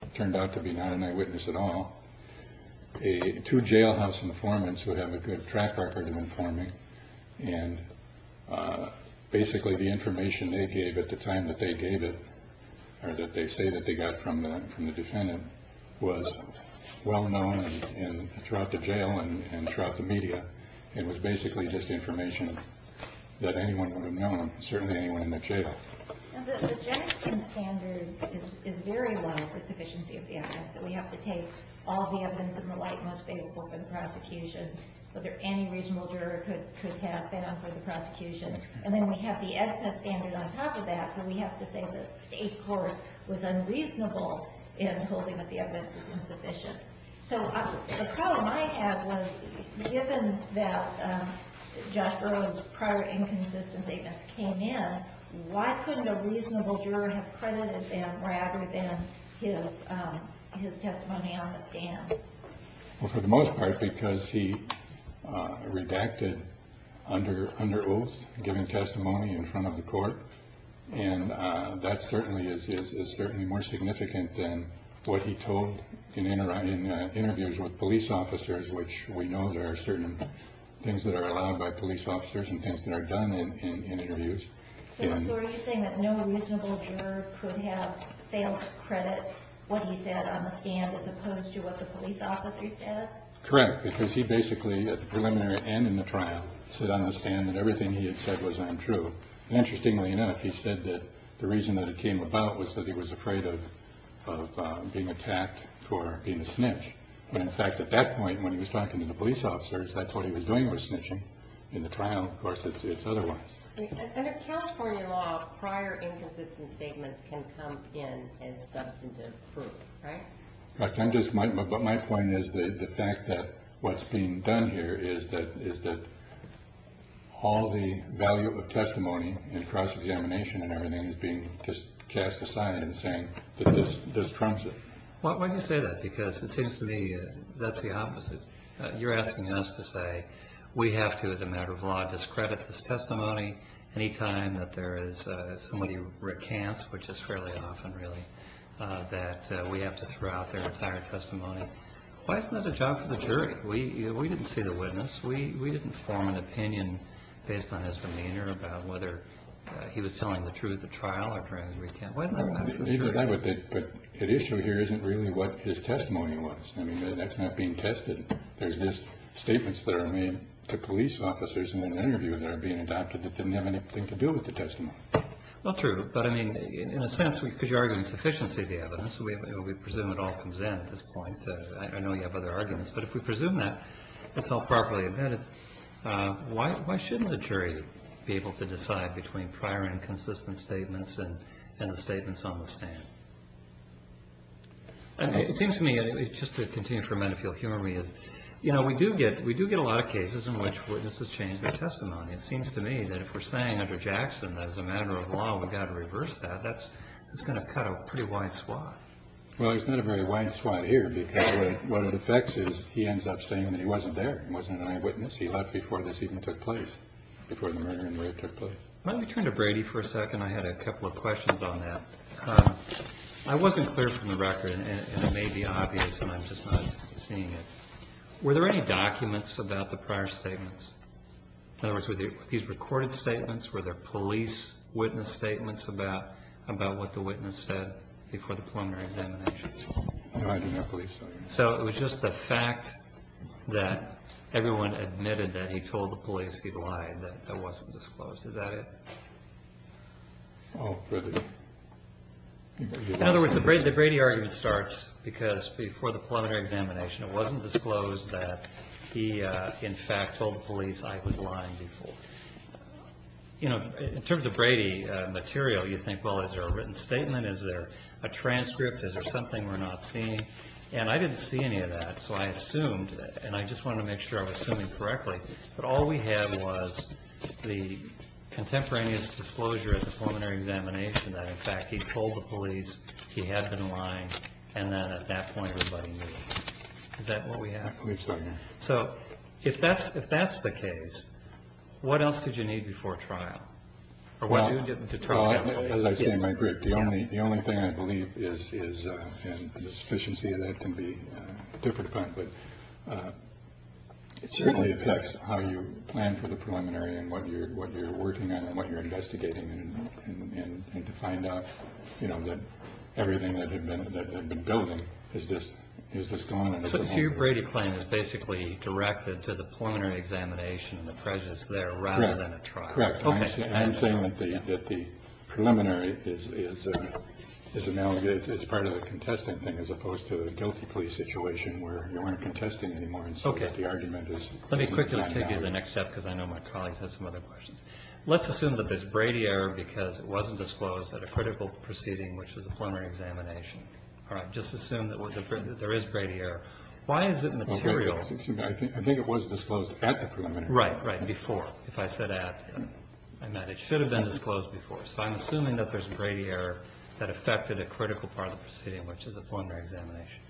It turned out to be not an eyewitness at all. A two jailhouse informants would have a good track record of informing and basically the information they gave at the time that they gave it, or that they say that they got from the from the defendant was well known throughout the jail and throughout the media. It was basically just information that anyone would have known, certainly anyone in the jail. And the Jackson standard is very low for sufficiency of the evidence. So we have to take all the evidence in the light most favorable for the prosecution, whether any reasonable juror could have been on for the prosecution. And then we have the Edpas standard on top of that. So we have to say that state court was unreasonable in holding that the evidence was insufficient. So the problem I have was given that Josh Burroughs prior inconsistency came in, why couldn't a reasonable juror have credited them rather than his his testimony on the stand? Well, for the most part, because he redacted under under oath, given testimony in front of the court. And that certainly is certainly more significant than what he told in interviews with police officers, which we know there are certain things that are allowed by police officers and things that are done in interviews. So are you saying that no reasonable juror could have failed to credit what he said on the stand as opposed to what the police officers said? Correct, because he basically at the preliminary and in the trial said on the stand that everything he had said was untrue. And interestingly enough, he said that the reason that it came about was that he was afraid of being attacked for being a snitch. And in fact, at that point, when he was talking to the police officers, that's what he was doing was snitching in the trial. Of course, it's otherwise. And in California law, prior inconsistent statements can come in as substantive proof. But my point is the fact that what's being done here is that is that. All the value of testimony and cross examination and everything is being just cast aside and saying that this this trumps it. Why do you say that? Because it seems to me that's the opposite. You're asking us to say we have to, as a matter of law, discredit this testimony. Any time that there is somebody who recants, which is fairly often, really, that we have to throw out their entire testimony. Why isn't it a job for the jury? We didn't see the witness. We didn't form an opinion based on his demeanor about whether he was telling the truth. The trial. We can't. But the issue here isn't really what his testimony was. I mean, that's not being tested. There's this statements that are made to police officers in an interview that are being adopted that didn't have anything to do with the testimony. Well, true. But I mean, in a sense, because you're arguing sufficiency of the evidence. We presume it all comes in at this point. I know you have other arguments, but if we presume that it's all properly vetted, why? Why shouldn't the jury be able to decide between prior inconsistent statements and the statements on the stand? And it seems to me, just to continue for a minute, if you'll hear me, is, you know, we do get we do get a lot of cases in which witnesses change their testimony. It seems to me that if we're saying under Jackson, as a matter of law, we've got to reverse that. That's it's going to cut a pretty wide swath. Well, it's not a very wide swath here, because what it affects is he ends up saying that he wasn't there. It wasn't an eyewitness. He left before this even took place before the murder and rape took place. Let me turn to Brady for a second. I had a couple of questions on that. I wasn't clear from the record, and it may be obvious, and I'm just not seeing it. Were there any documents about the prior statements? In other words, were these recorded statements? Were there police witness statements about what the witness said before the preliminary examination? No, I didn't have police statements. So it was just the fact that everyone admitted that he told the police he'd lied, that that wasn't disclosed. Is that it? In other words, the Brady argument starts because before the preliminary examination, it wasn't disclosed that he, in fact, told the police I was lying before. You know, in terms of Brady material, you think, well, is there a written statement? Is there a transcript? Is there something we're not seeing? And I didn't see any of that, so I assumed, and I just wanted to make sure I was assuming correctly, that all we had was the contemporaneous disclosure at the preliminary examination that, in fact, he told the police he had been lying, and then at that point everybody knew. Is that what we have? So if that's the case, what else did you need before trial? Well, as I say in my brief, the only thing I believe is, and the sufficiency of that can be a different point, but it certainly affects how you plan for the preliminary and what you're working on and what you're investigating and to find out that everything that they've been building is just gone. So your Brady claim is basically directed to the preliminary examination and the prejudice there rather than a trial. Correct. I'm saying that the preliminary is part of the contesting thing as opposed to a guilty plea situation where you aren't contesting anymore and so the argument is not valid. Let me quickly take you to the next step because I know my colleagues have some other questions. Let's assume that there's Brady error because it wasn't disclosed at a critical proceeding, which was a preliminary examination. All right, just assume that there is Brady error. Why is it material? I think it was disclosed at the preliminary. Right, right, before. If I said at, I meant it should have been disclosed before. So I'm assuming that there's Brady error that affected a critical part of the proceeding, which is a preliminary examination.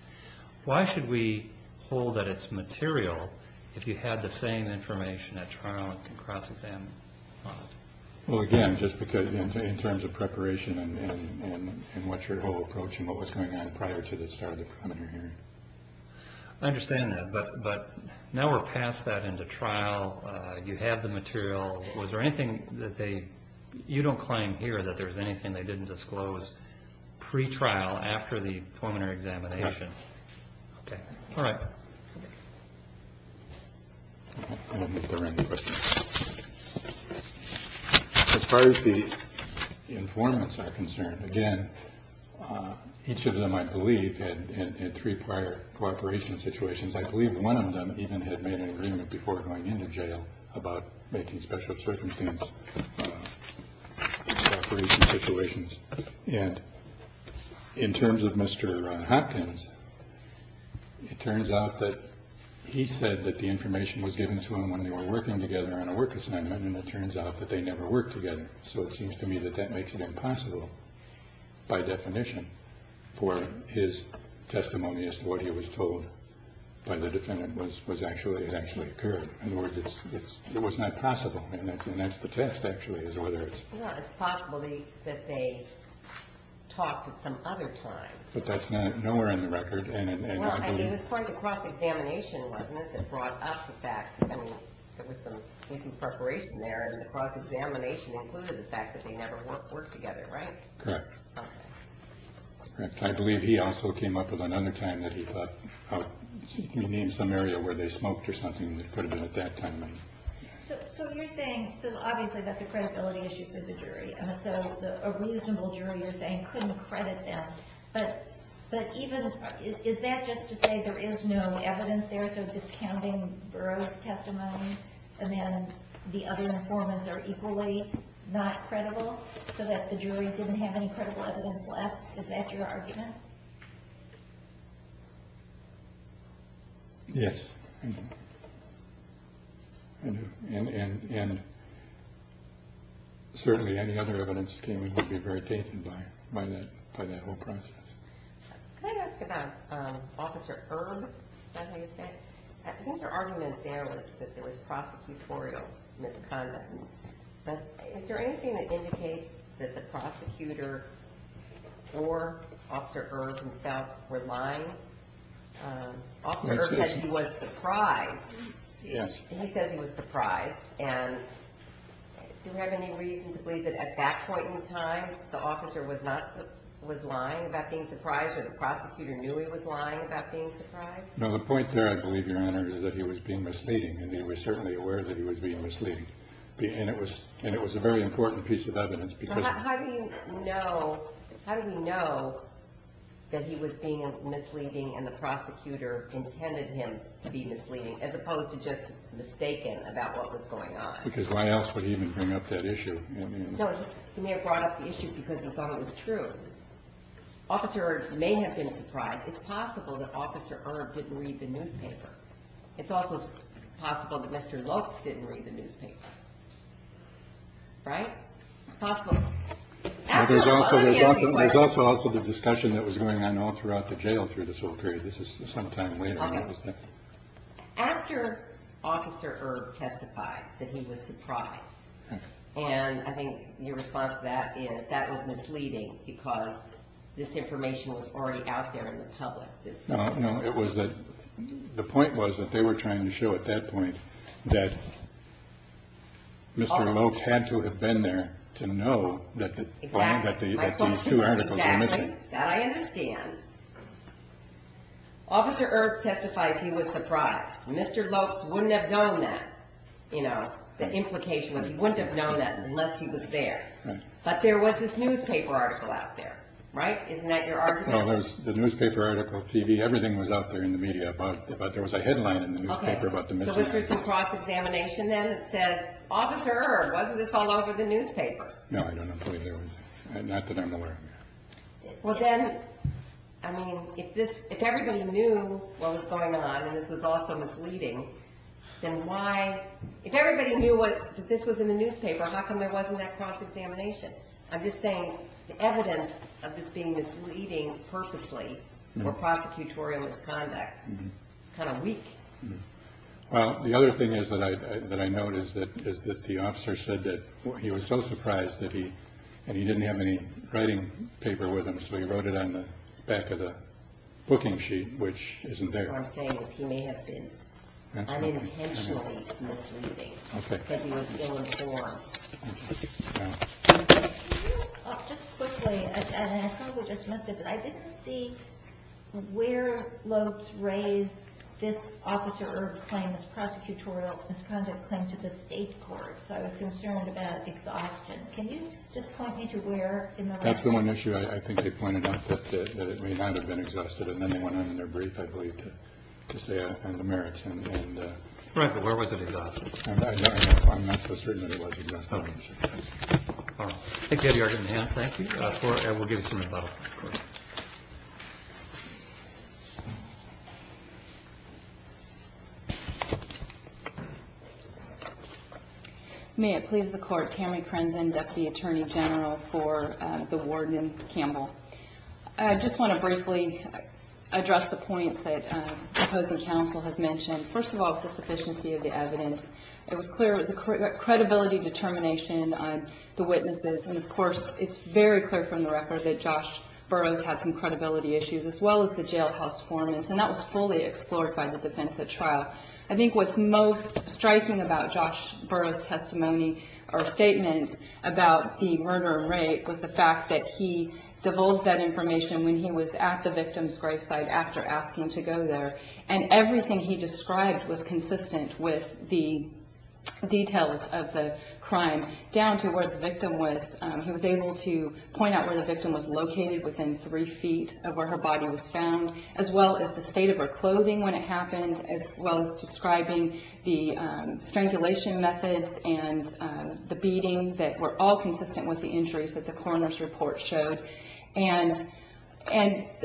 Why should we hold that it's material if you had the same information at trial and can cross-examine on it? Well, again, just in terms of preparation and what your whole approach and what was going on prior to the start of the preliminary hearing. I understand that, but now we're past that into trial. You have the material. Was there anything that they, you don't claim here that there's anything they didn't disclose pre-trial after the preliminary examination. Okay. All right. As far as the informants are concerned. Again, each of them, I believe, had three prior cooperation situations. I believe one of them even had made an agreement before going into jail about making special circumstance situations. And in terms of Mr. Hopkins, it turns out that he said that the information was given to him when they were working together on a work assignment. And it turns out that they never worked together. So it seems to me that that makes it impossible, by definition, for his testimony as to what he was told by the defendant was actually, it actually occurred. In other words, it was not possible. And that's the test, actually. It's possible that they talked at some other time. But that's nowhere in the record. It was part of the cross-examination, wasn't it, that brought us back. There was some preparation there. The cross-examination included the fact that they never worked together, right? Correct. I believe he also came up with another time that he thought, he named some area where they smoked or something that could have been at that time. So you're saying, so obviously that's a credibility issue for the jury. And so a reasonable jury, you're saying, couldn't credit them. But even, is that just to say there is no evidence there? So discounting Burroughs' testimony, and then the other informants are equally not credible, so that the jury didn't have any credible evidence left, is that your argument? Yes. And certainly any other evidence came in would be very tainted by that whole process. Could I ask about Officer Erb? Is that how you say it? I think your argument there was that there was prosecutorial misconduct. But is there anything that indicates that the prosecutor or Officer Erb himself were lying? Officer Erb said he was surprised. Yes. He says he was surprised. And do we have any reason to believe that at that point in time, the officer was lying about being surprised, or the prosecutor knew he was lying about being surprised? No, the point there, I believe, Your Honor, is that he was being misleading. And he was certainly aware that he was being misleading. And it was a very important piece of evidence. So how do we know that he was being misleading and the prosecutor intended him to be misleading, as opposed to just mistaken about what was going on? Because why else would he even bring up that issue? No, he may have brought up the issue because he thought it was true. Officer Erb may have been surprised. It's possible that Officer Erb didn't read the newspaper. It's also possible that Mr. Lopes didn't read the newspaper. Right? It's possible. There's also the discussion that was going on all throughout the jail through this whole period. After Officer Erb testified that he was surprised, and I think your response to that is that was misleading because this information was already out there in the public. No, it was that the point was that they were trying to show at that point that Mr. Lopes had to have been there to know that these two articles were missing. That I understand. Officer Erb testified he was surprised. Mr. Lopes wouldn't have known that. The implication was he wouldn't have known that unless he was there. But there was this newspaper article out there, right? Isn't that your argument? The newspaper article, TV, everything was out there in the media, but there was a headline in the newspaper about the missing. So was there some cross-examination then that said, Officer Erb, wasn't this all over the newspaper? No, I don't know. Not that I'm aware of. Well then, I mean, if everybody knew what was going on and this was also misleading, then why? If everybody knew that this was in the newspaper, how come there wasn't that cross-examination? I'm just saying the evidence of this being misleading purposely for prosecutorial misconduct is kind of weak. Well, the other thing is that I noticed that the officer said that he was so surprised that he didn't have any writing paper with him, so he wrote it on the back of the booking sheet, which isn't there. What I'm saying is he may have been unintentionally misleading because he was ill-informed. Just quickly, and I probably just missed it, but I didn't see where Lopes raised this Officer Erb claim, this prosecutorial misconduct claim to the State court. So I was concerned about exhaustion. Can you just point me to where in the record? That's the one issue I think they pointed out, that it may not have been exhausted, and then they went on in their brief, I believe, to say I have the merits. Right, but where was it exhausted? I'm not so certain that it was exhausted. Okay. All right. Thank you, Your Honor. Thank you. We'll give you some rebuttals. May it please the Court. Tammy Crenson, Deputy Attorney General for the Warden Campbell. I just want to briefly address the points that opposing counsel has mentioned. First of all, the sufficiency of the evidence. It was clear it was a credibility determination on the witnesses, and, of course, it's very clear from the record that Josh Burroughs had some credibility issues as well as the jailhouse foreman, and that was fully explored by the defense at trial. I think what's most striking about Josh Burroughs' testimony or statement about the murder and rape was the fact that he divulged that information when he was at the victim's grave site after asking to go there, and everything he described was consistent with the details of the crime, down to where the victim was. He was able to point out where the victim was located within three feet of where her body was found, as well as the state of her clothing when it happened, as well as describing the strangulation methods and the beating that were all consistent with the injuries that the coroner's report showed. And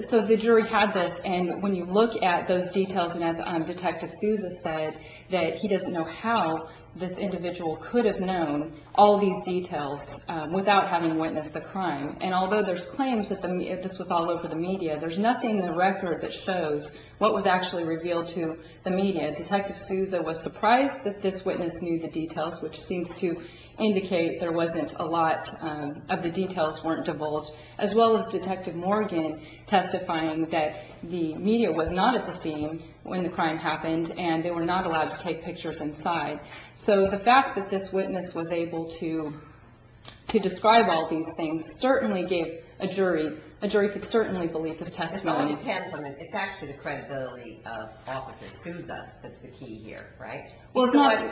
so the jury had this, and when you look at those details, and as Detective Souza said, that he doesn't know how this individual could have known all these details without having witnessed the crime. And although there's claims that this was all over the media, there's nothing in the record that shows what was actually revealed to the media. Detective Souza was surprised that this witness knew the details, which seems to indicate there wasn't a lot of the details weren't divulged, as well as Detective Morgan testifying that the media was not at the scene when the crime happened, and they were not allowed to take pictures inside. So the fact that this witness was able to describe all these things certainly gave a jury, a jury could certainly believe this testimony. It's actually the credibility of Officer Souza that's the key here, right? Well,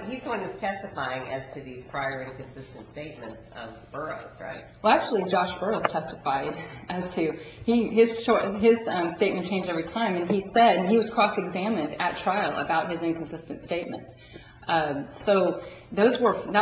he's the one who's testifying as to these prior inconsistent statements of Burroughs, right? Well, actually, Josh Burroughs testified as to, his statement changed every time. I mean, he said he was cross-examined at trial about his inconsistent statements. So that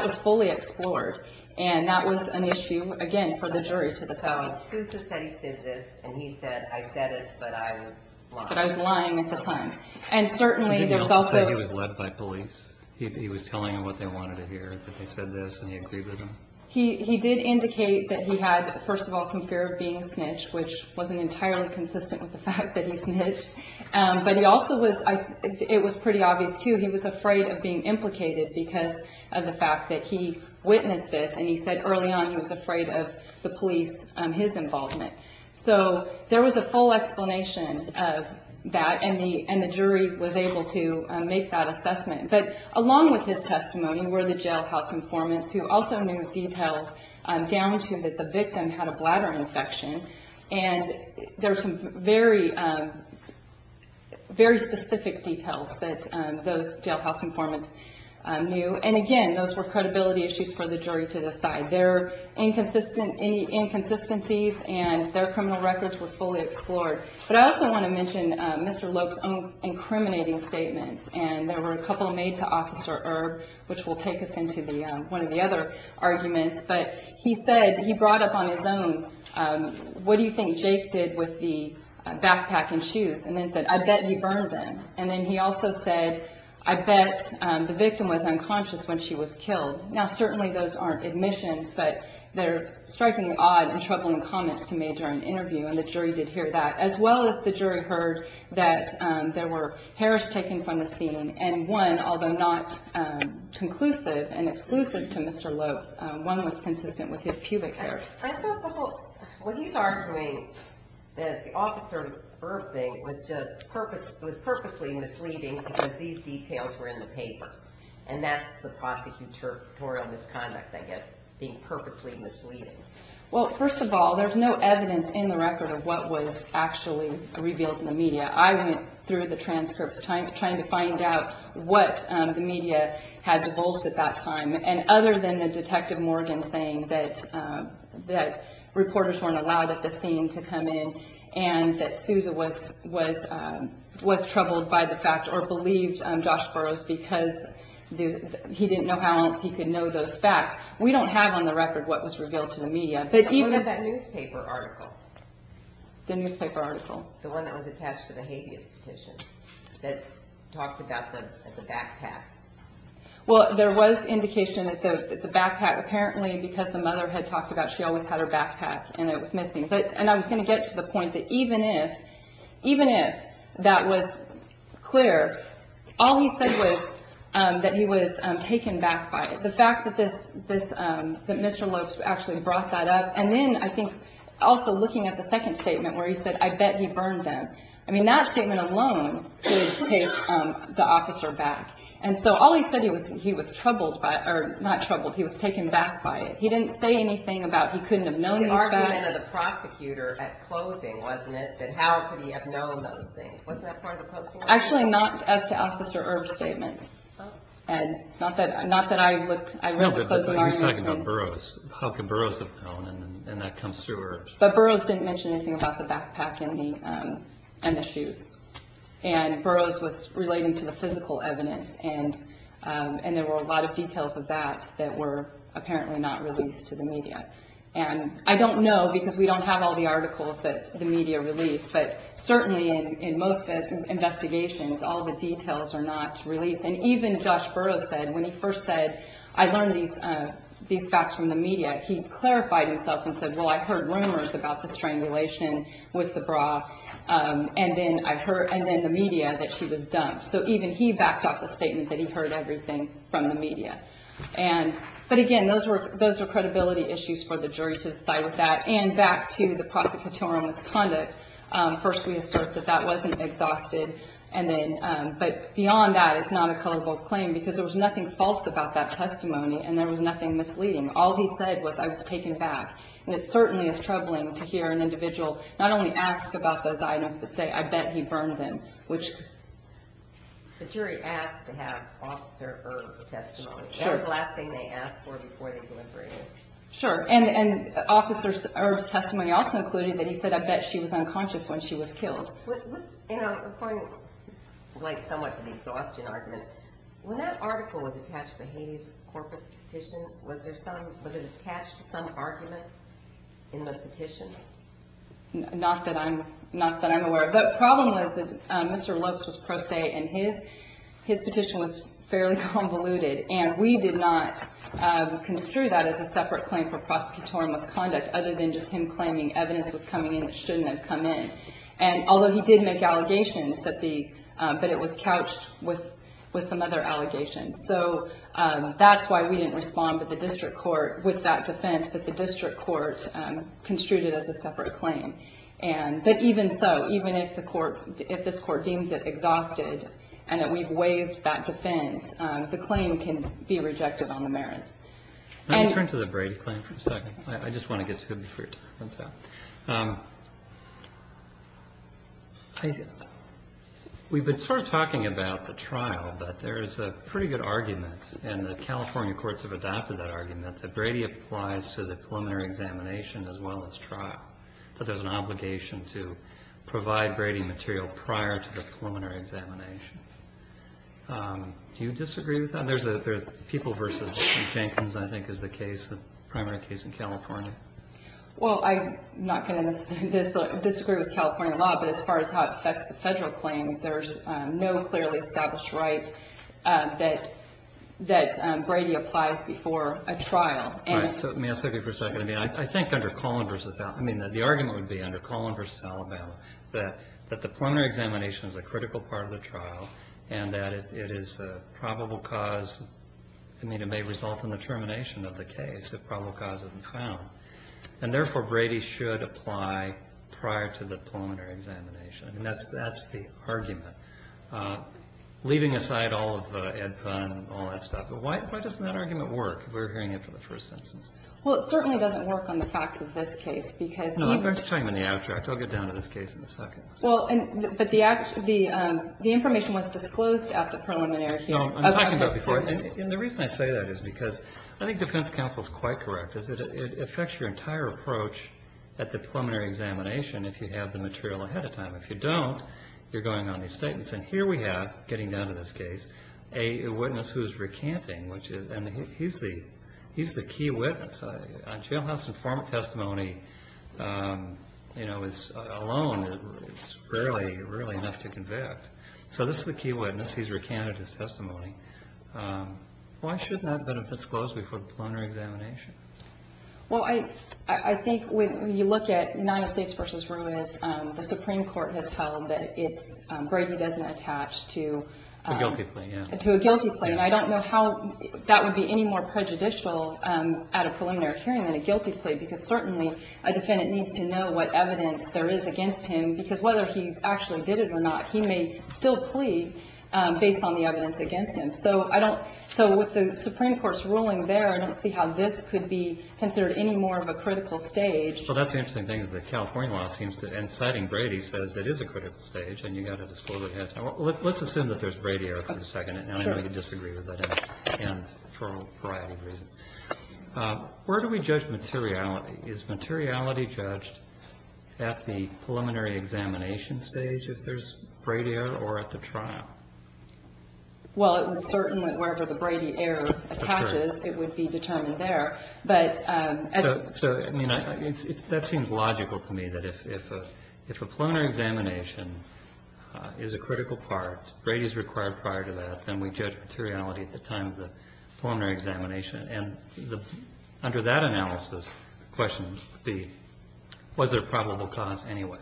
was fully explored, and that was an issue, again, for the jury to decide. So Souza said he said this, and he said, I said it, but I was lying. But I was lying at the time. And certainly there's also... Didn't he also say he was led by police? He was telling them what they wanted to hear, that they said this, and he agreed with them? He did indicate that he had, first of all, some fear of being snitched, which wasn't entirely consistent with the fact that he snitched. But he also was... It was pretty obvious, too, he was afraid of being implicated because of the fact that he witnessed this, and he said early on he was afraid of the police, his involvement. So there was a full explanation of that, and the jury was able to make that assessment. But along with his testimony were the jailhouse informants, who also knew details down to that the victim had a bladder infection, and there were some very specific details that those jailhouse informants knew. And again, those were credibility issues for the jury to decide. Their inconsistencies and their criminal records were fully explored. But I also want to mention Mr. Lope's incriminating statements, and there were a couple made to Officer Erb, which will take us into one of the other arguments. But he said, he brought up on his own, what do you think Jake did with the backpack and shoes, and then said, I bet he burned them. And then he also said, I bet the victim was unconscious when she was killed. Now, certainly those aren't admissions, but they're strikingly odd and troubling comments to make during an interview, and the jury did hear that, as well as the jury heard that there were hairs taken from the scene, and one, although not conclusive and exclusive to Mr. Lope's, one was consistent with his pubic hairs. I thought the whole, well he's arguing that the Officer Erb thing was just purposely misleading, because these details were in the paper. And that's the prosecutorial misconduct, I guess, being purposely misleading. Well, first of all, I went through the transcripts, trying to find out what the media had divulged at that time. And other than the Detective Morgan saying that reporters weren't allowed at the scene to come in, and that Sousa was troubled by the fact, or believed Josh Burroughs because he didn't know how else he could know those facts. We don't have on the record what was revealed to the media. What about that newspaper article? The newspaper article? The one that was attached to the habeas petition, that talked about the backpack. Well, there was indication that the backpack, apparently because the mother had talked about she always had her backpack, and it was missing. And I was going to get to the point that even if that was clear, all he said was that he was taken back by it. The fact that Mr. Lope actually brought that up, and then I think also looking at the second statement, where he said, I bet he burned them. I mean, that statement alone could take the officer back. And so all he said he was troubled by, or not troubled, he was taken back by it. He didn't say anything about he couldn't have known these facts. It was an argument of the prosecutor at closing, wasn't it, that how could he have known those things? Wasn't that part of the post-mortem? Actually, not as to Officer Erb's statements. Not that I looked, I read the closing arguments. But you were talking about Burroughs. How could Burroughs have known, and that comes through Erb's. But Burroughs didn't mention anything about the backpack and the shoes. And Burroughs was relating to the physical evidence, and there were a lot of details of that that were apparently not released to the media. And I don't know, because we don't have all the articles that the media released, but certainly in most investigations, all the details are not released. And even Josh Burroughs said, when he first said, I learned these facts from the media, he clarified himself and said, well, I heard rumors about the strangulation with the bra, and then the media that she was dumb. So even he backed off the statement that he heard everything from the media. But, again, those were credibility issues for the jury to decide with that. And back to the prosecutorial misconduct, first we assert that that wasn't exhausted. But beyond that, it's not a culpable claim, because there was nothing false about that testimony, and there was nothing misleading. All he said was, I was taken aback. And it certainly is troubling to hear an individual not only ask about those items, but say, I bet he burned them. The jury asked to have Officer Erb's testimony. That was the last thing they asked for before they deliberated. Sure, and Officer Erb's testimony also included that he said, I bet she was unconscious when she was killed. In a point, like somewhat an exhaustion argument, when that article was attached to the Hades Corpus petition, was it attached to some argument in the petition? Not that I'm aware of. The problem was that Mr. Lopes was pro se, and his petition was fairly convoluted. And we did not construe that as a separate claim for prosecutorial misconduct, other than just him claiming evidence was coming in that shouldn't have come in. Although he did make allegations, but it was couched with some other allegations. So that's why we didn't respond with the district court with that defense, but the district court construed it as a separate claim. But even so, even if the court, if this court deems it exhausted, and that we've waived that defense, the claim can be rejected on the merits. Let me turn to the Brady claim for a second. I just want to get to it before it runs out. We've been sort of talking about the trial, but there is a pretty good argument, and the California courts have adopted that argument, that Brady applies to the preliminary examination as well as trial. That there's an obligation to provide Brady material prior to the preliminary examination. Do you disagree with that? People v. Jenkins, I think, is the case, the primary case in California. Well, I'm not going to disagree with California law, but as far as how it affects the federal claim, there's no clearly established right that Brady applies before a trial. All right. So let me ask you for a second. I think under Collin v. Alabama, I mean, the argument would be under Collin v. Alabama, that the preliminary examination is a critical part of the trial, and that it is a probable cause. I mean, it may result in the termination of the case, if probable cause isn't found. And, therefore, Brady should apply prior to the preliminary examination. I mean, that's the argument. Leaving aside all of Ed Pahn and all that stuff, why doesn't that argument work if we're hearing it for the first instance? Well, it certainly doesn't work on the facts of this case, because you would No, I'm just talking about the abstract. I'll get down to this case in a second. Well, but the information was disclosed at the preliminary hearing. No, I'm talking about before. And the reason I say that is because I think defense counsel is quite correct. It affects your entire approach at the preliminary examination if you have the material ahead of time. If you don't, you're going on these statements. And here we have, getting down to this case, a witness who is recanting, and he's the key witness. A jailhouse informant testimony alone is rarely enough to convict. So this is the key witness. He's recanted his testimony. Why shouldn't that have been disclosed before the preliminary examination? Well, I think when you look at United States v. Ruiz, the Supreme Court has held that Brady doesn't attach to a guilty plea. And I don't know how that would be any more prejudicial at a preliminary hearing than a guilty plea, because certainly a defendant needs to know what evidence there is against him, because whether he actually did it or not, he may still plea based on the evidence against him. So with the Supreme Court's ruling there, I don't see how this could be considered any more of a critical stage. Well, that's the interesting thing is that California law seems to, and citing Brady, says it is a critical stage, and you've got to disclose what you have to know. Let's assume that there's Brady error for the second, and I know you disagree with that for a variety of reasons. Where do we judge materiality? Is materiality judged at the preliminary examination stage if there's Brady error or at the trial? Well, it would certainly, wherever the Brady error attaches, it would be determined there. So, I mean, that seems logical to me, that if a preliminary examination is a critical part, Brady is required prior to that, then we judge materiality at the time of the preliminary examination. And under that analysis, the question would be, was there a probable cause anyway?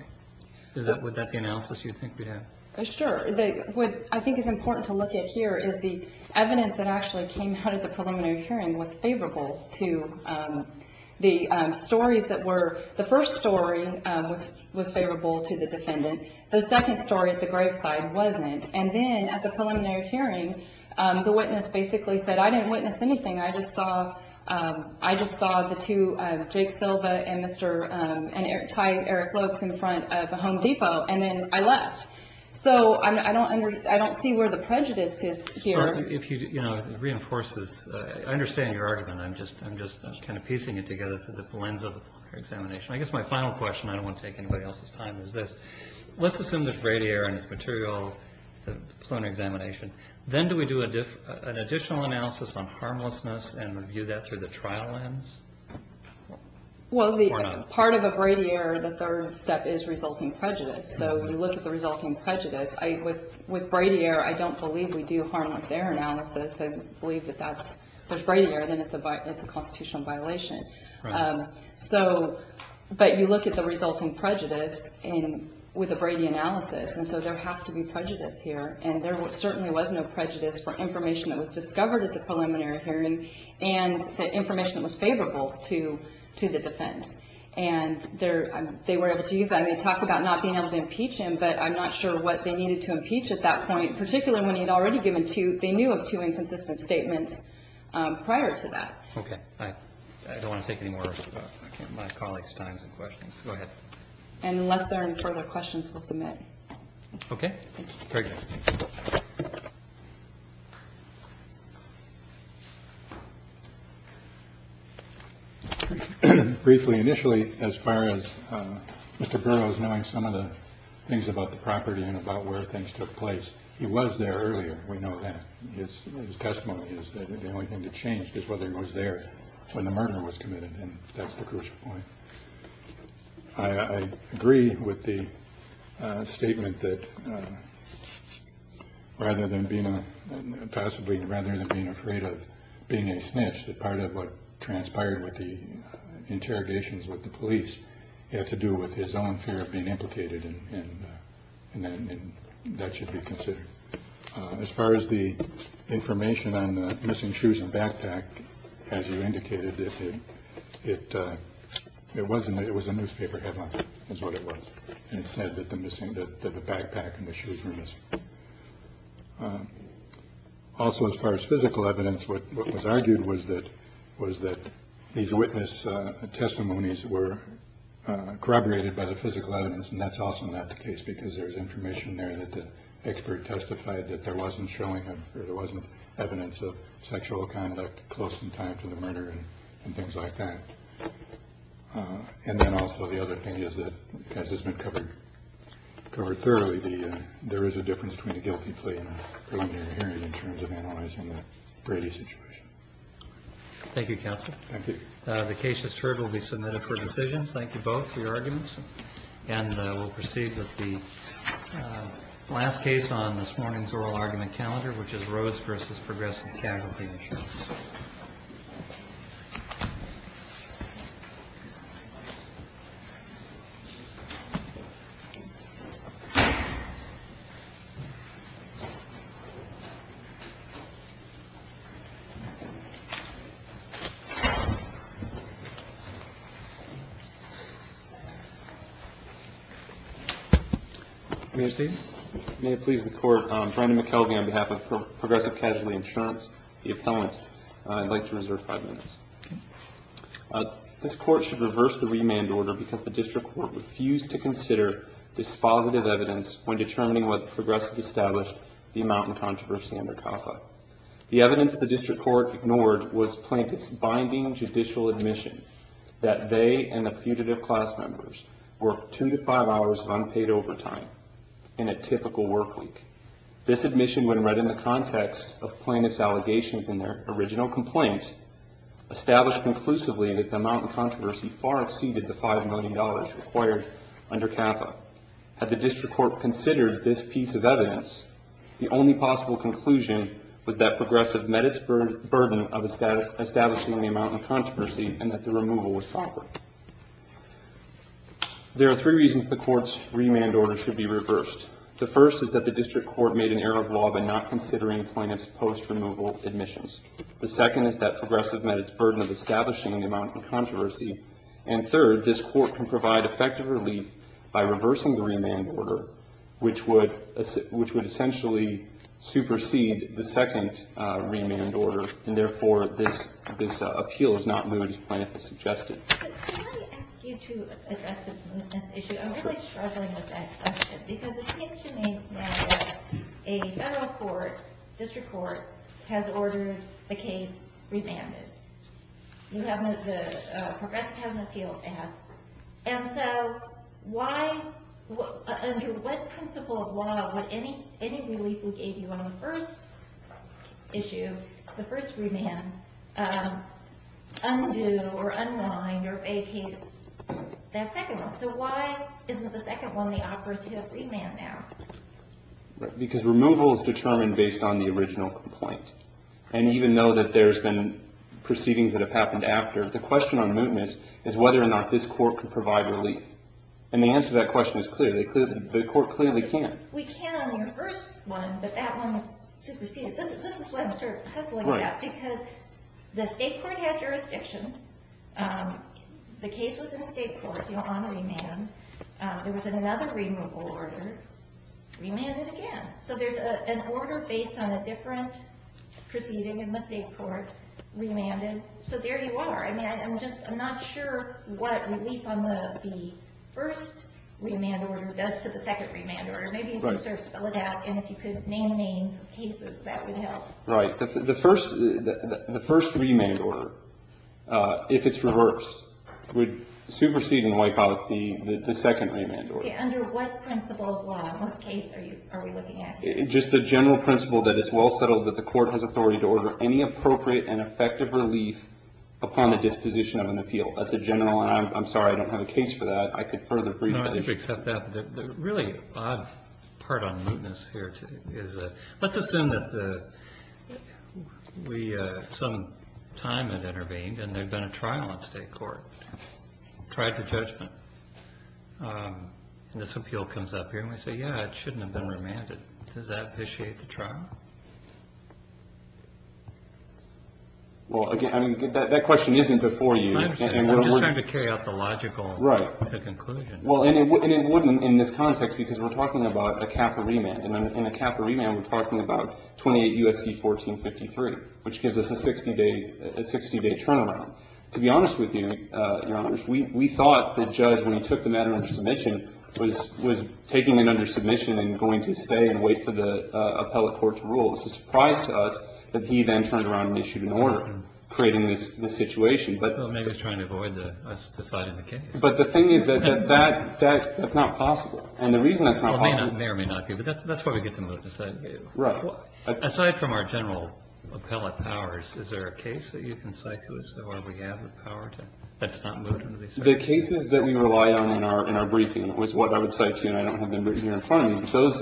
Would that be the analysis you think we'd have? Sure. What I think is important to look at here is the evidence that actually came out at the preliminary hearing was favorable to the stories that were, the first story was favorable to the defendant. The second story at the grave site wasn't. And then at the preliminary hearing, the witness basically said, I didn't witness anything. I just saw the two, Jake Silva and Ty Eric Lopes, in front of the Home Depot, and then I left. So, I don't see where the prejudice is here. It reinforces, I understand your argument. I'm just kind of piecing it together through the lens of the examination. I guess my final question, I don't want to take anybody else's time, is this. Let's assume there's Brady error in this material, the preliminary examination. Then do we do an additional analysis on harmlessness and review that through the trial lens, or not? Well, part of a Brady error, the third step is resulting prejudice. So, you look at the resulting prejudice. With Brady error, I don't believe we do harmless error analysis. I believe that that's, if there's Brady error, then it's a constitutional violation. Right. So, but you look at the resulting prejudice with a Brady analysis, and so there has to be prejudice here. And there certainly was no prejudice for information that was discovered at the preliminary hearing, and the information that was favorable to the defense. And they were able to use that. They talk about not being able to impeach him, but I'm not sure what they needed to impeach at that point, particularly when he had already given two, they knew of two inconsistent statements prior to that. Okay. I don't want to take any more of my colleagues' time and questions. Go ahead. And unless there are any further questions, we'll submit. Okay. Thank you. Briefly, initially, as far as Mr. Burroughs, knowing some of the things about the property and about where things took place, he was there earlier. We know that his testimony is that the only thing to change is whether he was there when the murder was committed. And that's the crucial point. I agree with the statement that rather than being possibly rather than being afraid of being a snitch, that part of what transpired with the interrogations with the police had to do with his own fear of being implicated. And that should be considered as far as the information on the missing shoes and backpack. As you indicated, it it it wasn't. It was a newspaper headline is what it was. And it said that the missing that the backpack and the shoes were missing. Also, as far as physical evidence, what was argued was that was that these witness testimonies were corroborated by the physical evidence. And that's also not the case because there's information there that the expert testified that there wasn't showing him. There wasn't evidence of sexual contact close in time to the murder and things like that. And then also the other thing is that because it's been covered covered thoroughly, there is a difference between a guilty plea and a preliminary hearing in terms of analyzing the Brady situation. Thank you, counsel. Thank you. The case has heard will be submitted for decision. Thank you both for your arguments. And we'll proceed with the last case on this morning's oral argument calendar, which is Rose versus progressive casualty. Sure. May it please the court. Brandon McKelvey, on behalf of Progressive Casualty Insurance, the appellant. I'd like to reserve five minutes. This court should reverse the remand order because the district court refused to consider dispositive evidence when determining what progressive established the amount of controversy under CAFA. The evidence the district court ignored was plaintiff's binding judicial admission that they and the fugitive class members worked two to five hours of unpaid overtime in a typical work week. This admission, when read in the context of plaintiff's allegations in their original complaint, established conclusively that the amount of controversy far exceeded the $5 million required under CAFA. Had the district court considered this piece of evidence, the only possible conclusion was that progressive met its burden of establishing the amount of controversy and that the removal was proper. There are three reasons the court's remand order should be reversed. The first is that the district court made an error of law by not considering plaintiff's post-removal admissions. The second is that progressive met its burden of establishing the amount of controversy. And third, this court can provide effective relief by reversing the remand order, which would essentially supersede the second remand order, and therefore this appeal is not moved as plaintiff has suggested. Can I ask you to address this issue? I'm really struggling with that question because it seems to me now that a federal court, district court, has ordered the case remanded. The progressive hasn't appealed yet. And so why, under what principle of law would any relief we gave you on the first issue, the first remand, undo or unwind or vacate that second one? So why isn't the second one the operative remand now? Because removal is determined based on the original complaint. And even though that there's been proceedings that have happened after, the question on mootness is whether or not this court can provide relief. And the answer to that question is clear. The court clearly can't. We can on your first one, but that one is superseded. This is what I'm sort of tussling about because the state court had jurisdiction. The case was in the state court, you know, on remand. There was another removal order, remanded again. So there's an order based on a different proceeding in the state court, remanded. So there you are. I mean, I'm just not sure what relief on the first remand order does to the second remand order. Maybe you can sort of spell it out, and if you could name names of cases, that would help. Right. The first remand order, if it's reversed, would supersede and wipe out the second remand order. Okay. Under what principle of law? What case are we looking at here? Just the general principle that it's well settled that the court has authority to order any appropriate and effective relief upon the disposition of an appeal. That's a general, and I'm sorry, I don't have a case for that. I could further brief it. No, I think we accept that. But the really odd part on mootness here is let's assume that we some time had intervened and there had been a trial in state court, tried the judgment, and this appeal comes up here, and we say, yeah, it shouldn't have been remanded. Does that vitiate the trial? Well, again, I mean, that question isn't before you. I understand. We're just trying to carry out the logical conclusion. Right. Well, and it wouldn't in this context because we're talking about a CAFA remand, and in a CAFA remand, we're talking about 28 U.S.C. 1453, which gives us a 60-day turnaround. To be honest with you, Your Honors, we thought the judge, when he took the matter under submission, was taking it under submission and going to stay and wait for the appellate court to rule. It's a surprise to us that he then turned around and issued an order creating this situation. Well, maybe he's trying to avoid us deciding the case. But the thing is that that's not possible. And the reason that's not possible Well, it may or may not be. But that's where we get to moot and decide. Right. Aside from our general appellate powers, is there a case that you can cite to us that we have the power to? That's not moot? The cases that we rely on in our briefing was what I would cite to you, and I don't have them written here in front of me. But those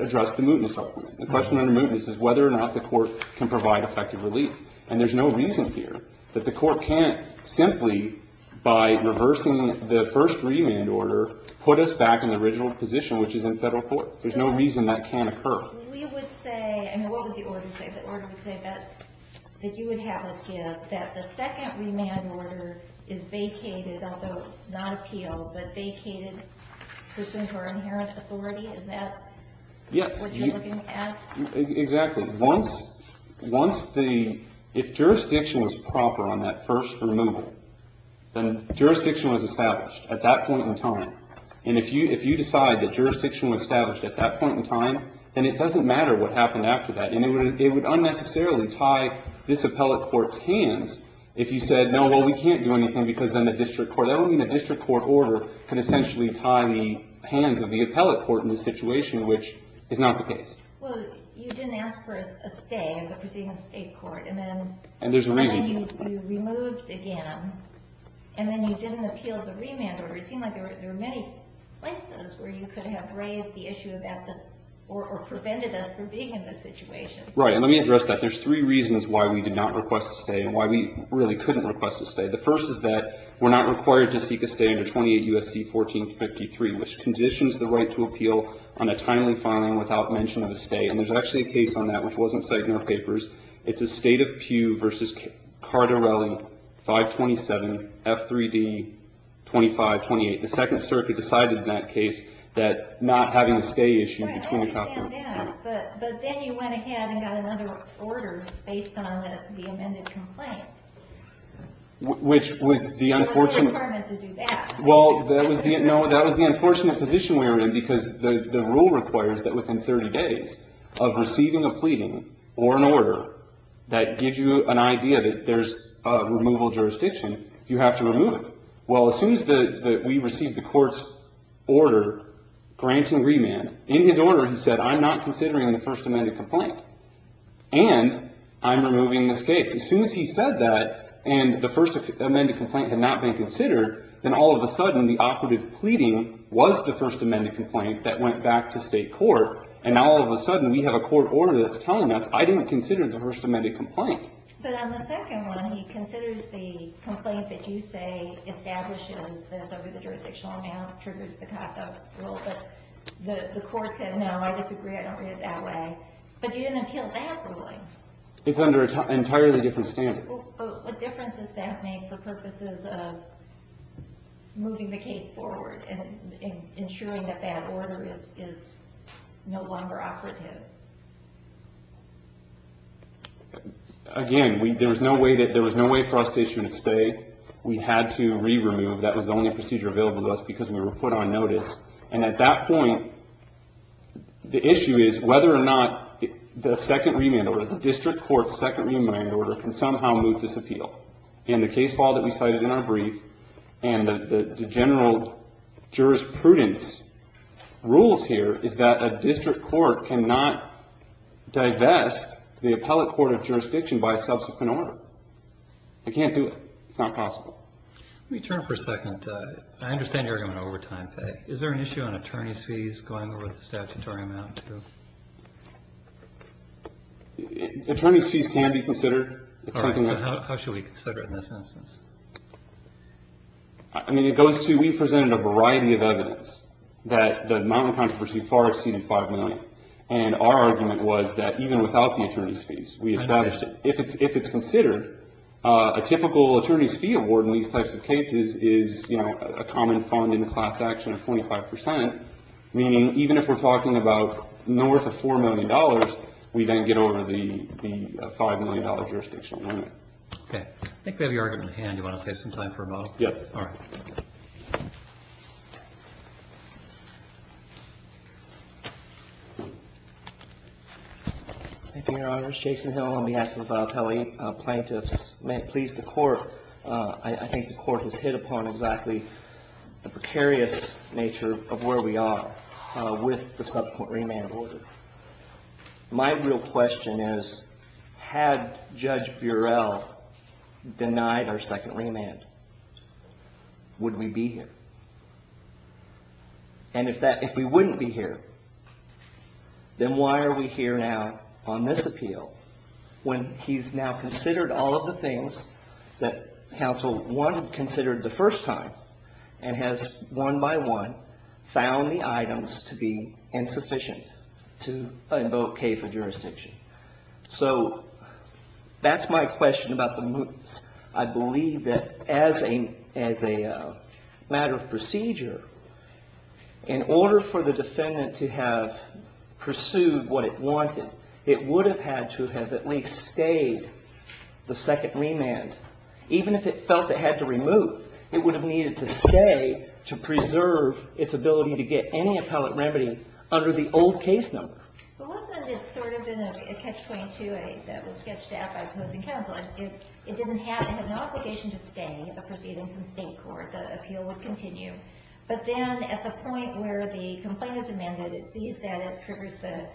address the mootness. The question under mootness is whether or not the court can provide effective relief. And there's no reason here that the court can't simply, by reversing the first remand order, put us back in the original position, which is in federal court. There's no reason that can't occur. We would say, I mean, what would the order say? The order would say that you would have us give that the second remand order is vacated, although not appealed, but vacated persons who are inherent authority. Is that what you're looking at? Yes. Exactly. Once the, if jurisdiction was proper on that first removal, then jurisdiction was established. At that point in time. And if you decide that jurisdiction was established at that point in time, then it doesn't matter what happened after that. And it would unnecessarily tie this appellate court's hands if you said, no, well, we can't do anything because then the district court, that would mean the district court order can essentially tie the hands of the appellate court in this situation, which is not the case. Well, you didn't ask for a stay in the preceding state court. And then. And there's a reason. And then you removed again. And then you didn't appeal the remand order. It seemed like there were many places where you could have raised the issue about the, or prevented us from being in this situation. Right. And let me address that. There's three reasons why we did not request a stay and why we really couldn't request a stay. The first is that we're not required to seek a stay under 28 U.S.C. 1453, which conditions the right to appeal on a timely filing without mention of a stay. And there's actually a case on that, which wasn't cited in our papers. It's a state of Pew versus Cardarelli 527 F3D 2528. The second circuit decided in that case that not having a stay issue between. But then you went ahead and got another order based on the amended complaint. Which was the unfortunate. Well, that was the, no, that was the unfortunate position we were in because the court's order that gives you an idea that there's a removal jurisdiction. You have to remove it. Well, as soon as the, we received the court's order granting remand in his order, he said, I'm not considering the first amended complaint. And I'm removing this case. As soon as he said that, and the first amended complaint had not been considered, then all of a sudden the operative pleading was the first amended complaint that went back to state court. And now all of a sudden we have a court order that's telling us, I didn't consider the first amended complaint. But on the second one, he considers the complaint that you say establishes that it's over the jurisdictional amount, triggers the cop-out rule. But the court said, no, I disagree. I don't read it that way. But you didn't appeal that ruling. It's under an entirely different standard. What difference does that make for purposes of moving the case forward and ensuring that that order is no longer operative? Again, there was no way for us to issue a stay. We had to re-remove. That was the only procedure available to us because we were put on notice. And at that point, the issue is whether or not the second remand order, the district court's second remand order, can somehow move this appeal. And the case law that we cited in our brief, and the general jurisprudence rules here, is that a district court cannot divest the appellate court of jurisdiction by a subsequent order. They can't do it. It's not possible. Let me turn for a second. I understand you're going to overtime pay. Is there an issue on attorney's fees going over the statutory amount? Attorney's fees can be considered. How should we consider it in this instance? We presented a variety of evidence that the amount of controversy far exceeded $5 million. And our argument was that even without the attorney's fees, if it's considered, a typical attorney's fee award in these types of cases is a common fund in the class action of 45%, meaning even if we're talking about north of $4 million, we then get over the $5 million jurisdiction limit. Okay. I think we have your argument at hand. Do you want to save some time for a moment? Yes. All right. Thank you. Thank you, Your Honor. This is Jason Hill on behalf of the Fiatelli plaintiffs. May it please the Court, I think the Court has hit upon exactly the precarious nature of where we are with the subsequent remand order. My real question is, had Judge Burell denied our second remand, would we be here? And if we wouldn't be here, then why are we here now on this appeal when he's now considered all of the things that counsel, one, considered the first time and has one by one found the items to be insufficient to invoke K for jurisdiction? So that's my question about the mootness. I believe that as a matter of procedure, in order for the defendant to have pursued what it wanted, it would have had to have at least stayed the second remand. Even if it felt it had to remove, it would have needed to stay to preserve its ability to get any appellate remedy under the old case number. But wasn't it sort of in a catch-22 that was sketched out by opposing counsel? It didn't have, it had no obligation to stay the proceedings in state court. The appeal would continue. But then at the point where the complaint is amended, it sees that it triggers the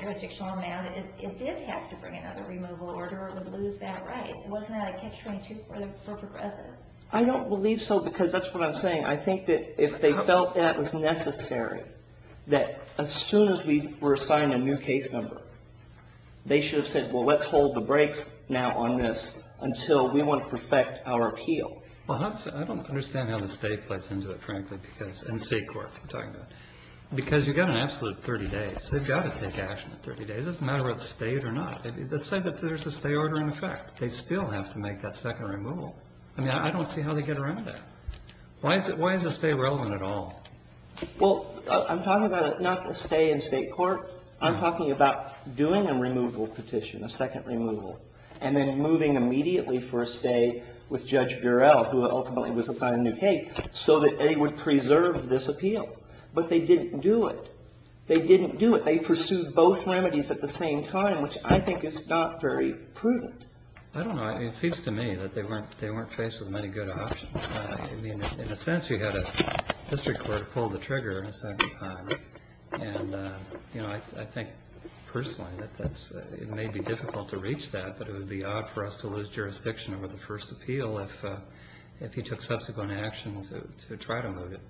jurisdictional amount, it did have to bring another removal order or it would lose that right. Wasn't that a catch-22 for the President? I don't believe so because that's what I'm saying. I think that if they felt that was necessary, that as soon as we were assigned a new case number, they should have said, well, let's hold the brakes now on this until we want to perfect our appeal. Well, I don't understand how the State plays into it, frankly, because, and state court, I'm talking about, because you've got an absolute 30 days. They've got to take action in 30 days. It doesn't matter whether it stayed or not. Let's say that there's a stay order in effect. They still have to make that second removal. I mean, I don't see how they get around that. Why is a stay relevant at all? Well, I'm talking about not a stay in state court. I'm talking about doing a removal petition, a second removal, and then moving immediately for a stay with Judge Burell, who ultimately was assigned a new case, so that they would preserve this appeal. But they didn't do it. They didn't do it. They pursued both remedies at the same time, which I think is not very prudent. I don't know. It seems to me that they weren't faced with many good options. I mean, in a sense, you had a district court pull the trigger a second time. And, you know, I think personally that it may be difficult to reach that, but it would be odd for us to lose jurisdiction over the first appeal if you took subsequent action to try to move it.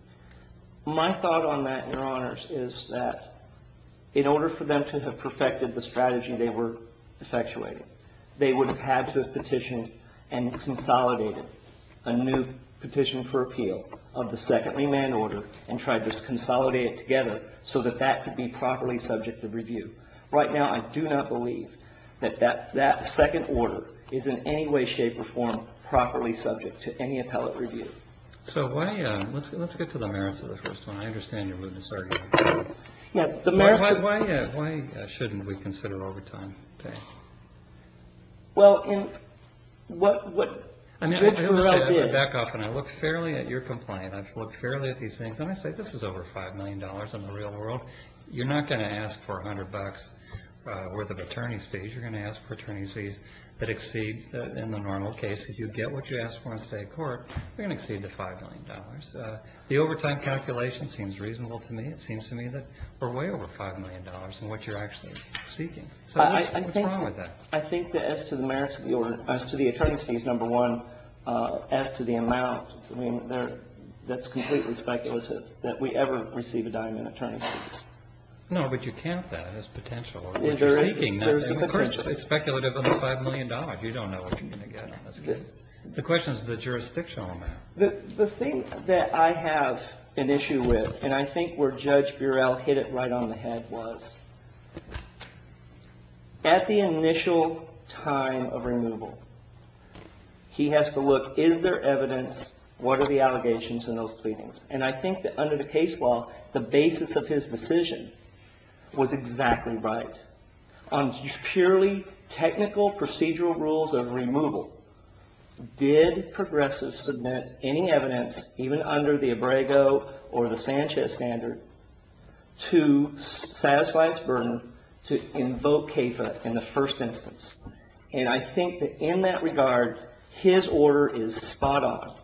My thought on that, Your Honors, is that in order for them to have perfected the strategy they were effectuating, they would have had to have petitioned and consolidated a new petition for appeal of the second remand order and tried to consolidate it together so that that could be properly subject to review. Right now, I do not believe that that second order is in any way, shape, or form properly subject to any appellate review. So let's get to the merits of the first one. I understand your mood in this argument. Why shouldn't we consider overtime pay? Well, in what Judge Burrell did. I'm going to back off, and I look fairly at your complaint. I've looked fairly at these things, and I say this is over $5 million in the real world. You're not going to ask for $100 worth of attorney's fees. You're going to ask for attorney's fees that exceed in the normal case. If you get what you ask for in state court, you're going to exceed the $5 million. The overtime calculation seems reasonable to me. It seems to me that we're way over $5 million in what you're actually seeking. So what's wrong with that? I think that as to the merits of the order, as to the attorney's fees, number one, as to the amount, I mean, that's completely speculative, that we ever receive a dime in attorney's fees. No, but you count that as potential or what you're seeking. There is a potential. Of course, it's speculative of the $5 million. You don't know what you're going to get on this case. The question is the jurisdictional amount. The thing that I have an issue with, and I think where Judge Burell hit it right on the head was, at the initial time of removal, he has to look, is there evidence? What are the allegations in those pleadings? And I think that under the case law, the basis of his decision was exactly right. On purely technical procedural rules of removal, did Progressive submit any evidence, even under the Abrego or the Sanchez standard, to satisfy its burden to invoke CAFA in the first instance? And I think that in that regard, his order is spot on.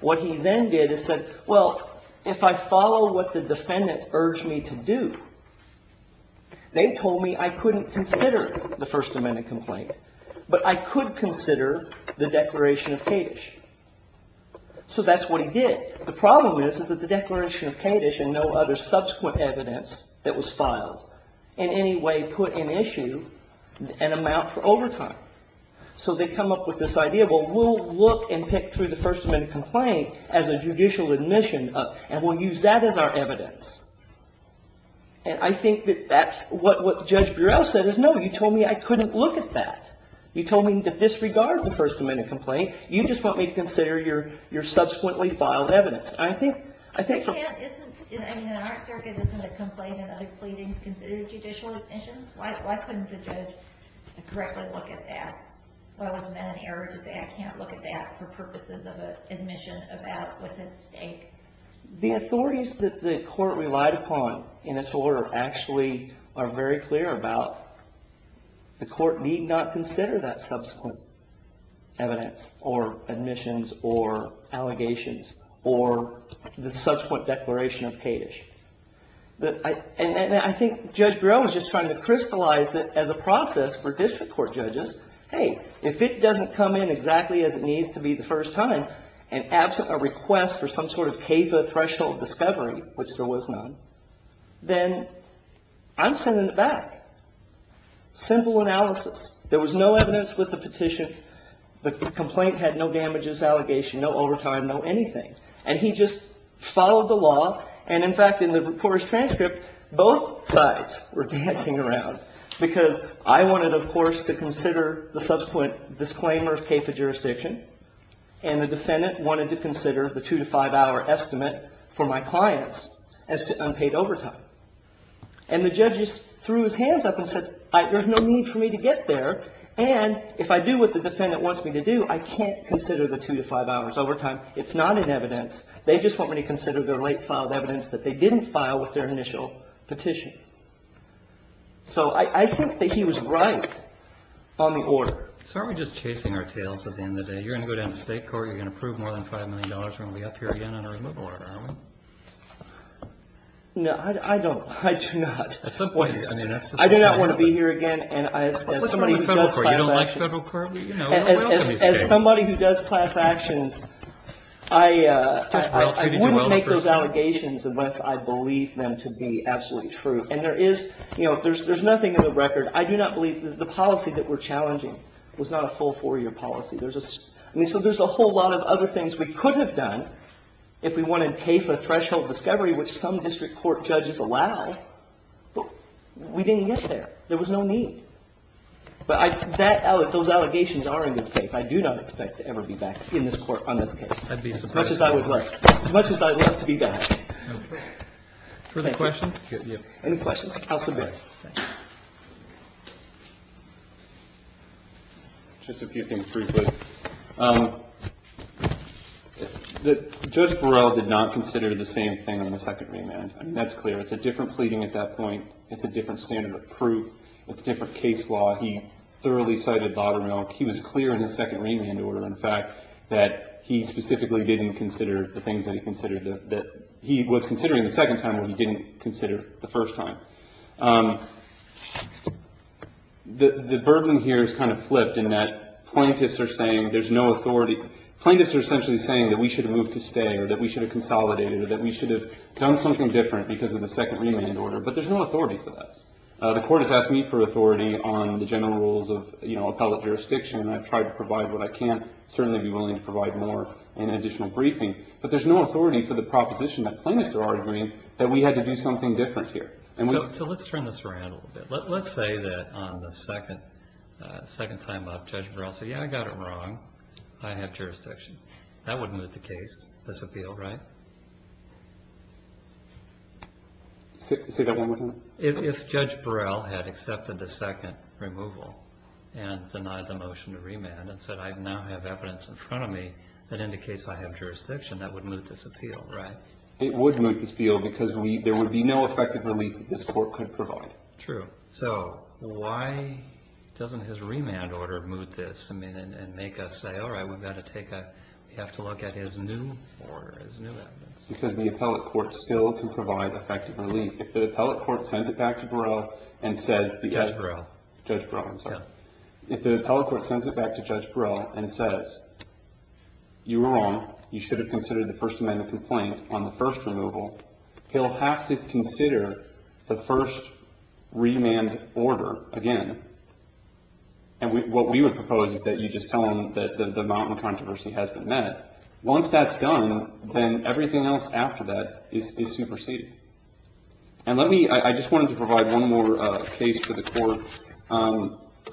What he then did is said, well, if I follow what the defendant urged me to do, they told me I couldn't consider the First Amendment complaint, but I could consider the Declaration of Kadesh. So that's what he did. The problem is that the Declaration of Kadesh and no other subsequent evidence that was filed in any way put in issue an amount for overtime. So they come up with this idea, well, we'll look and pick through the First Amendment complaint as a judicial admission, and we'll use that as our evidence. And I think that that's what Judge Burrell said is, no, you told me I couldn't look at that. You told me to disregard the First Amendment complaint. You just want me to consider your subsequently filed evidence. I think for— I mean, in our circuit, isn't a complaint and other pleadings considered judicial admissions? Why couldn't the judge correctly look at that? Why was it then an error to say I can't look at that for purposes of an admission about what's at stake? The authorities that the court relied upon in this order actually are very clear about the court need not consider that subsequent evidence or admissions or allegations or the subsequent Declaration of Kadesh. And I think Judge Burrell was just trying to crystallize it as a process for district court judges. Hey, if it doesn't come in exactly as it needs to be the first time and absent a request for some sort of CAFA threshold discovery, which there was none, then I'm sending it back. Simple analysis. There was no evidence with the petition. The complaint had no damages allegation, no overtime, no anything. And he just followed the law. And in fact, in the rapporteur's transcript, both sides were dancing around because I wanted, of course, to consider the subsequent disclaimer of CAFA jurisdiction. And the defendant wanted to consider the two to five hour estimate for my clients as to unpaid overtime. And the judge just threw his hands up and said, there's no need for me to get there. And if I do what the defendant wants me to do, I can't consider the two to five hours overtime. It's not in evidence. They just want me to consider their late filed evidence that they didn't file with their initial petition. So I think that he was right on the order. So are we just chasing our tails at the end of the day? You're going to go down to state court. You're going to prove more than $5 million. You're going to be up here again on a removal order, aren't we? No, I don't. I do not. At some point. I do not want to be here again. You don't like federal court? As somebody who does class actions, I wouldn't make those allegations unless I believe them to be absolutely true. And there is, you know, there's nothing in the record. I do not believe the policy that we're challenging was not a full four-year policy. I mean, so there's a whole lot of other things we could have done if we wanted CAFA threshold discovery, which some district court judges allow. But we didn't get there. There was no need. But those allegations are in good faith. I do not expect to ever be back in this court on this case. As much as I would like to be back. Further questions? Any questions? House of Baird. Just a few things briefly. Judge Burrell did not consider the same thing on the second remand. That's clear. It's a different pleading at that point. It's a different standard of proof. It's different case law. He thoroughly cited Vaudermilk. He was clear in the second remand order, in fact, that he specifically didn't consider the things that he considered. He was considering the second time when he didn't consider the first time. The burden here is kind of flipped in that plaintiffs are saying there's no authority. Plaintiffs are essentially saying that we should have moved to stay or that we should have consolidated or that we should have done something different because of the second remand order. But there's no authority for that. The court has asked me for authority on the general rules of, you know, appellate jurisdiction. And I've tried to provide what I can. Certainly be willing to provide more in an additional briefing. But there's no authority for the proposition that plaintiffs are arguing that we had to do something different here. So let's turn this around a little bit. Let's say that on the second time up, Judge Burrell said, yeah, I got it wrong. I have jurisdiction. That would move the case, this appeal, right? Say that one more time. If Judge Burrell had accepted the second removal and denied the motion to remand and said I now have evidence in front of me that indicates I have jurisdiction, that would move this appeal, right? It would move this appeal because there would be no effective relief that this court could provide. True. So why doesn't his remand order move this and make us say, all right, we've got to take a, we have to look at his new order, his new evidence? Because the appellate court still can provide effective relief. If the appellate court sends it back to Burrell and says the judge. Judge Burrell. Judge Burrell, I'm sorry. Yeah. If the appellate court sends it back to Judge Burrell and says you were wrong, you should have considered the First Amendment complaint on the first removal, he'll have to consider the first remand order again. And what we would propose is that you just tell him that the mountain controversy has been met. Once that's done, then everything else after that is superseded. And let me, I just wanted to provide one more case for the court.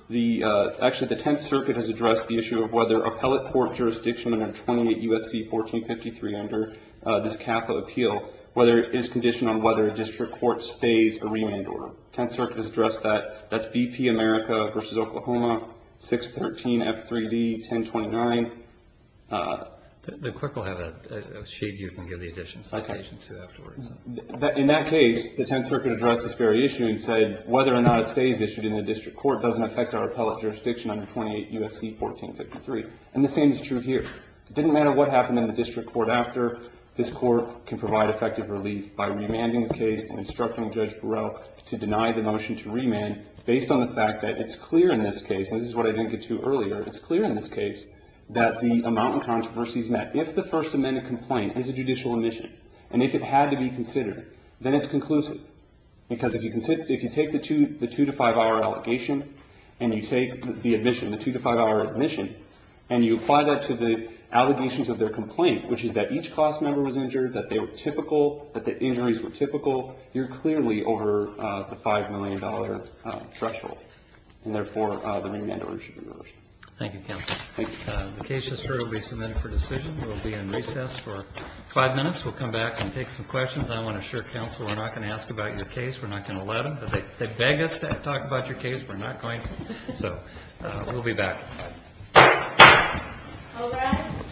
The, actually the Tenth Circuit has addressed the issue of whether appellate court jurisdiction under 28 U.S.C. 1453 under this Catholic appeal, whether it is conditioned on whether a district court stays a remand order. Tenth Circuit has addressed that. That's BP America versus Oklahoma, 613 F3D 1029. The clerk will have a sheet you can give the additions to afterwards. Okay. In that case, the Tenth Circuit addressed this very issue and said whether or not it stays issued in the district court doesn't affect our appellate jurisdiction under 28 U.S.C. 1453. And the same is true here. It didn't matter what happened in the district court after, this court can provide effective relief by remanding the case and instructing Judge Burrell to deny the motion to remand based on the fact that it's clear in this case, and this is what I didn't get to earlier, it's clear in this case that the amount of controversies met, if the First Amendment complaint is a judicial admission, and if it had to be considered, then it's conclusive. Because if you take the two- to five-hour allegation and you take the admission, the two- to five-hour admission, and you apply that to the allegations of their complaint, which is that each class member was injured, that they were typical, that the injuries were typical, you're clearly over the $5 million threshold, and therefore the remand order should be reversed. Thank you, counsel. The case is currently submitted for decision. We'll be in recess for five minutes. We'll come back and take some questions. I want to assure counsel we're not going to ask about your case. We're not going to let them. If they beg us to talk about your case, we're not going to. So we'll be back. All rise.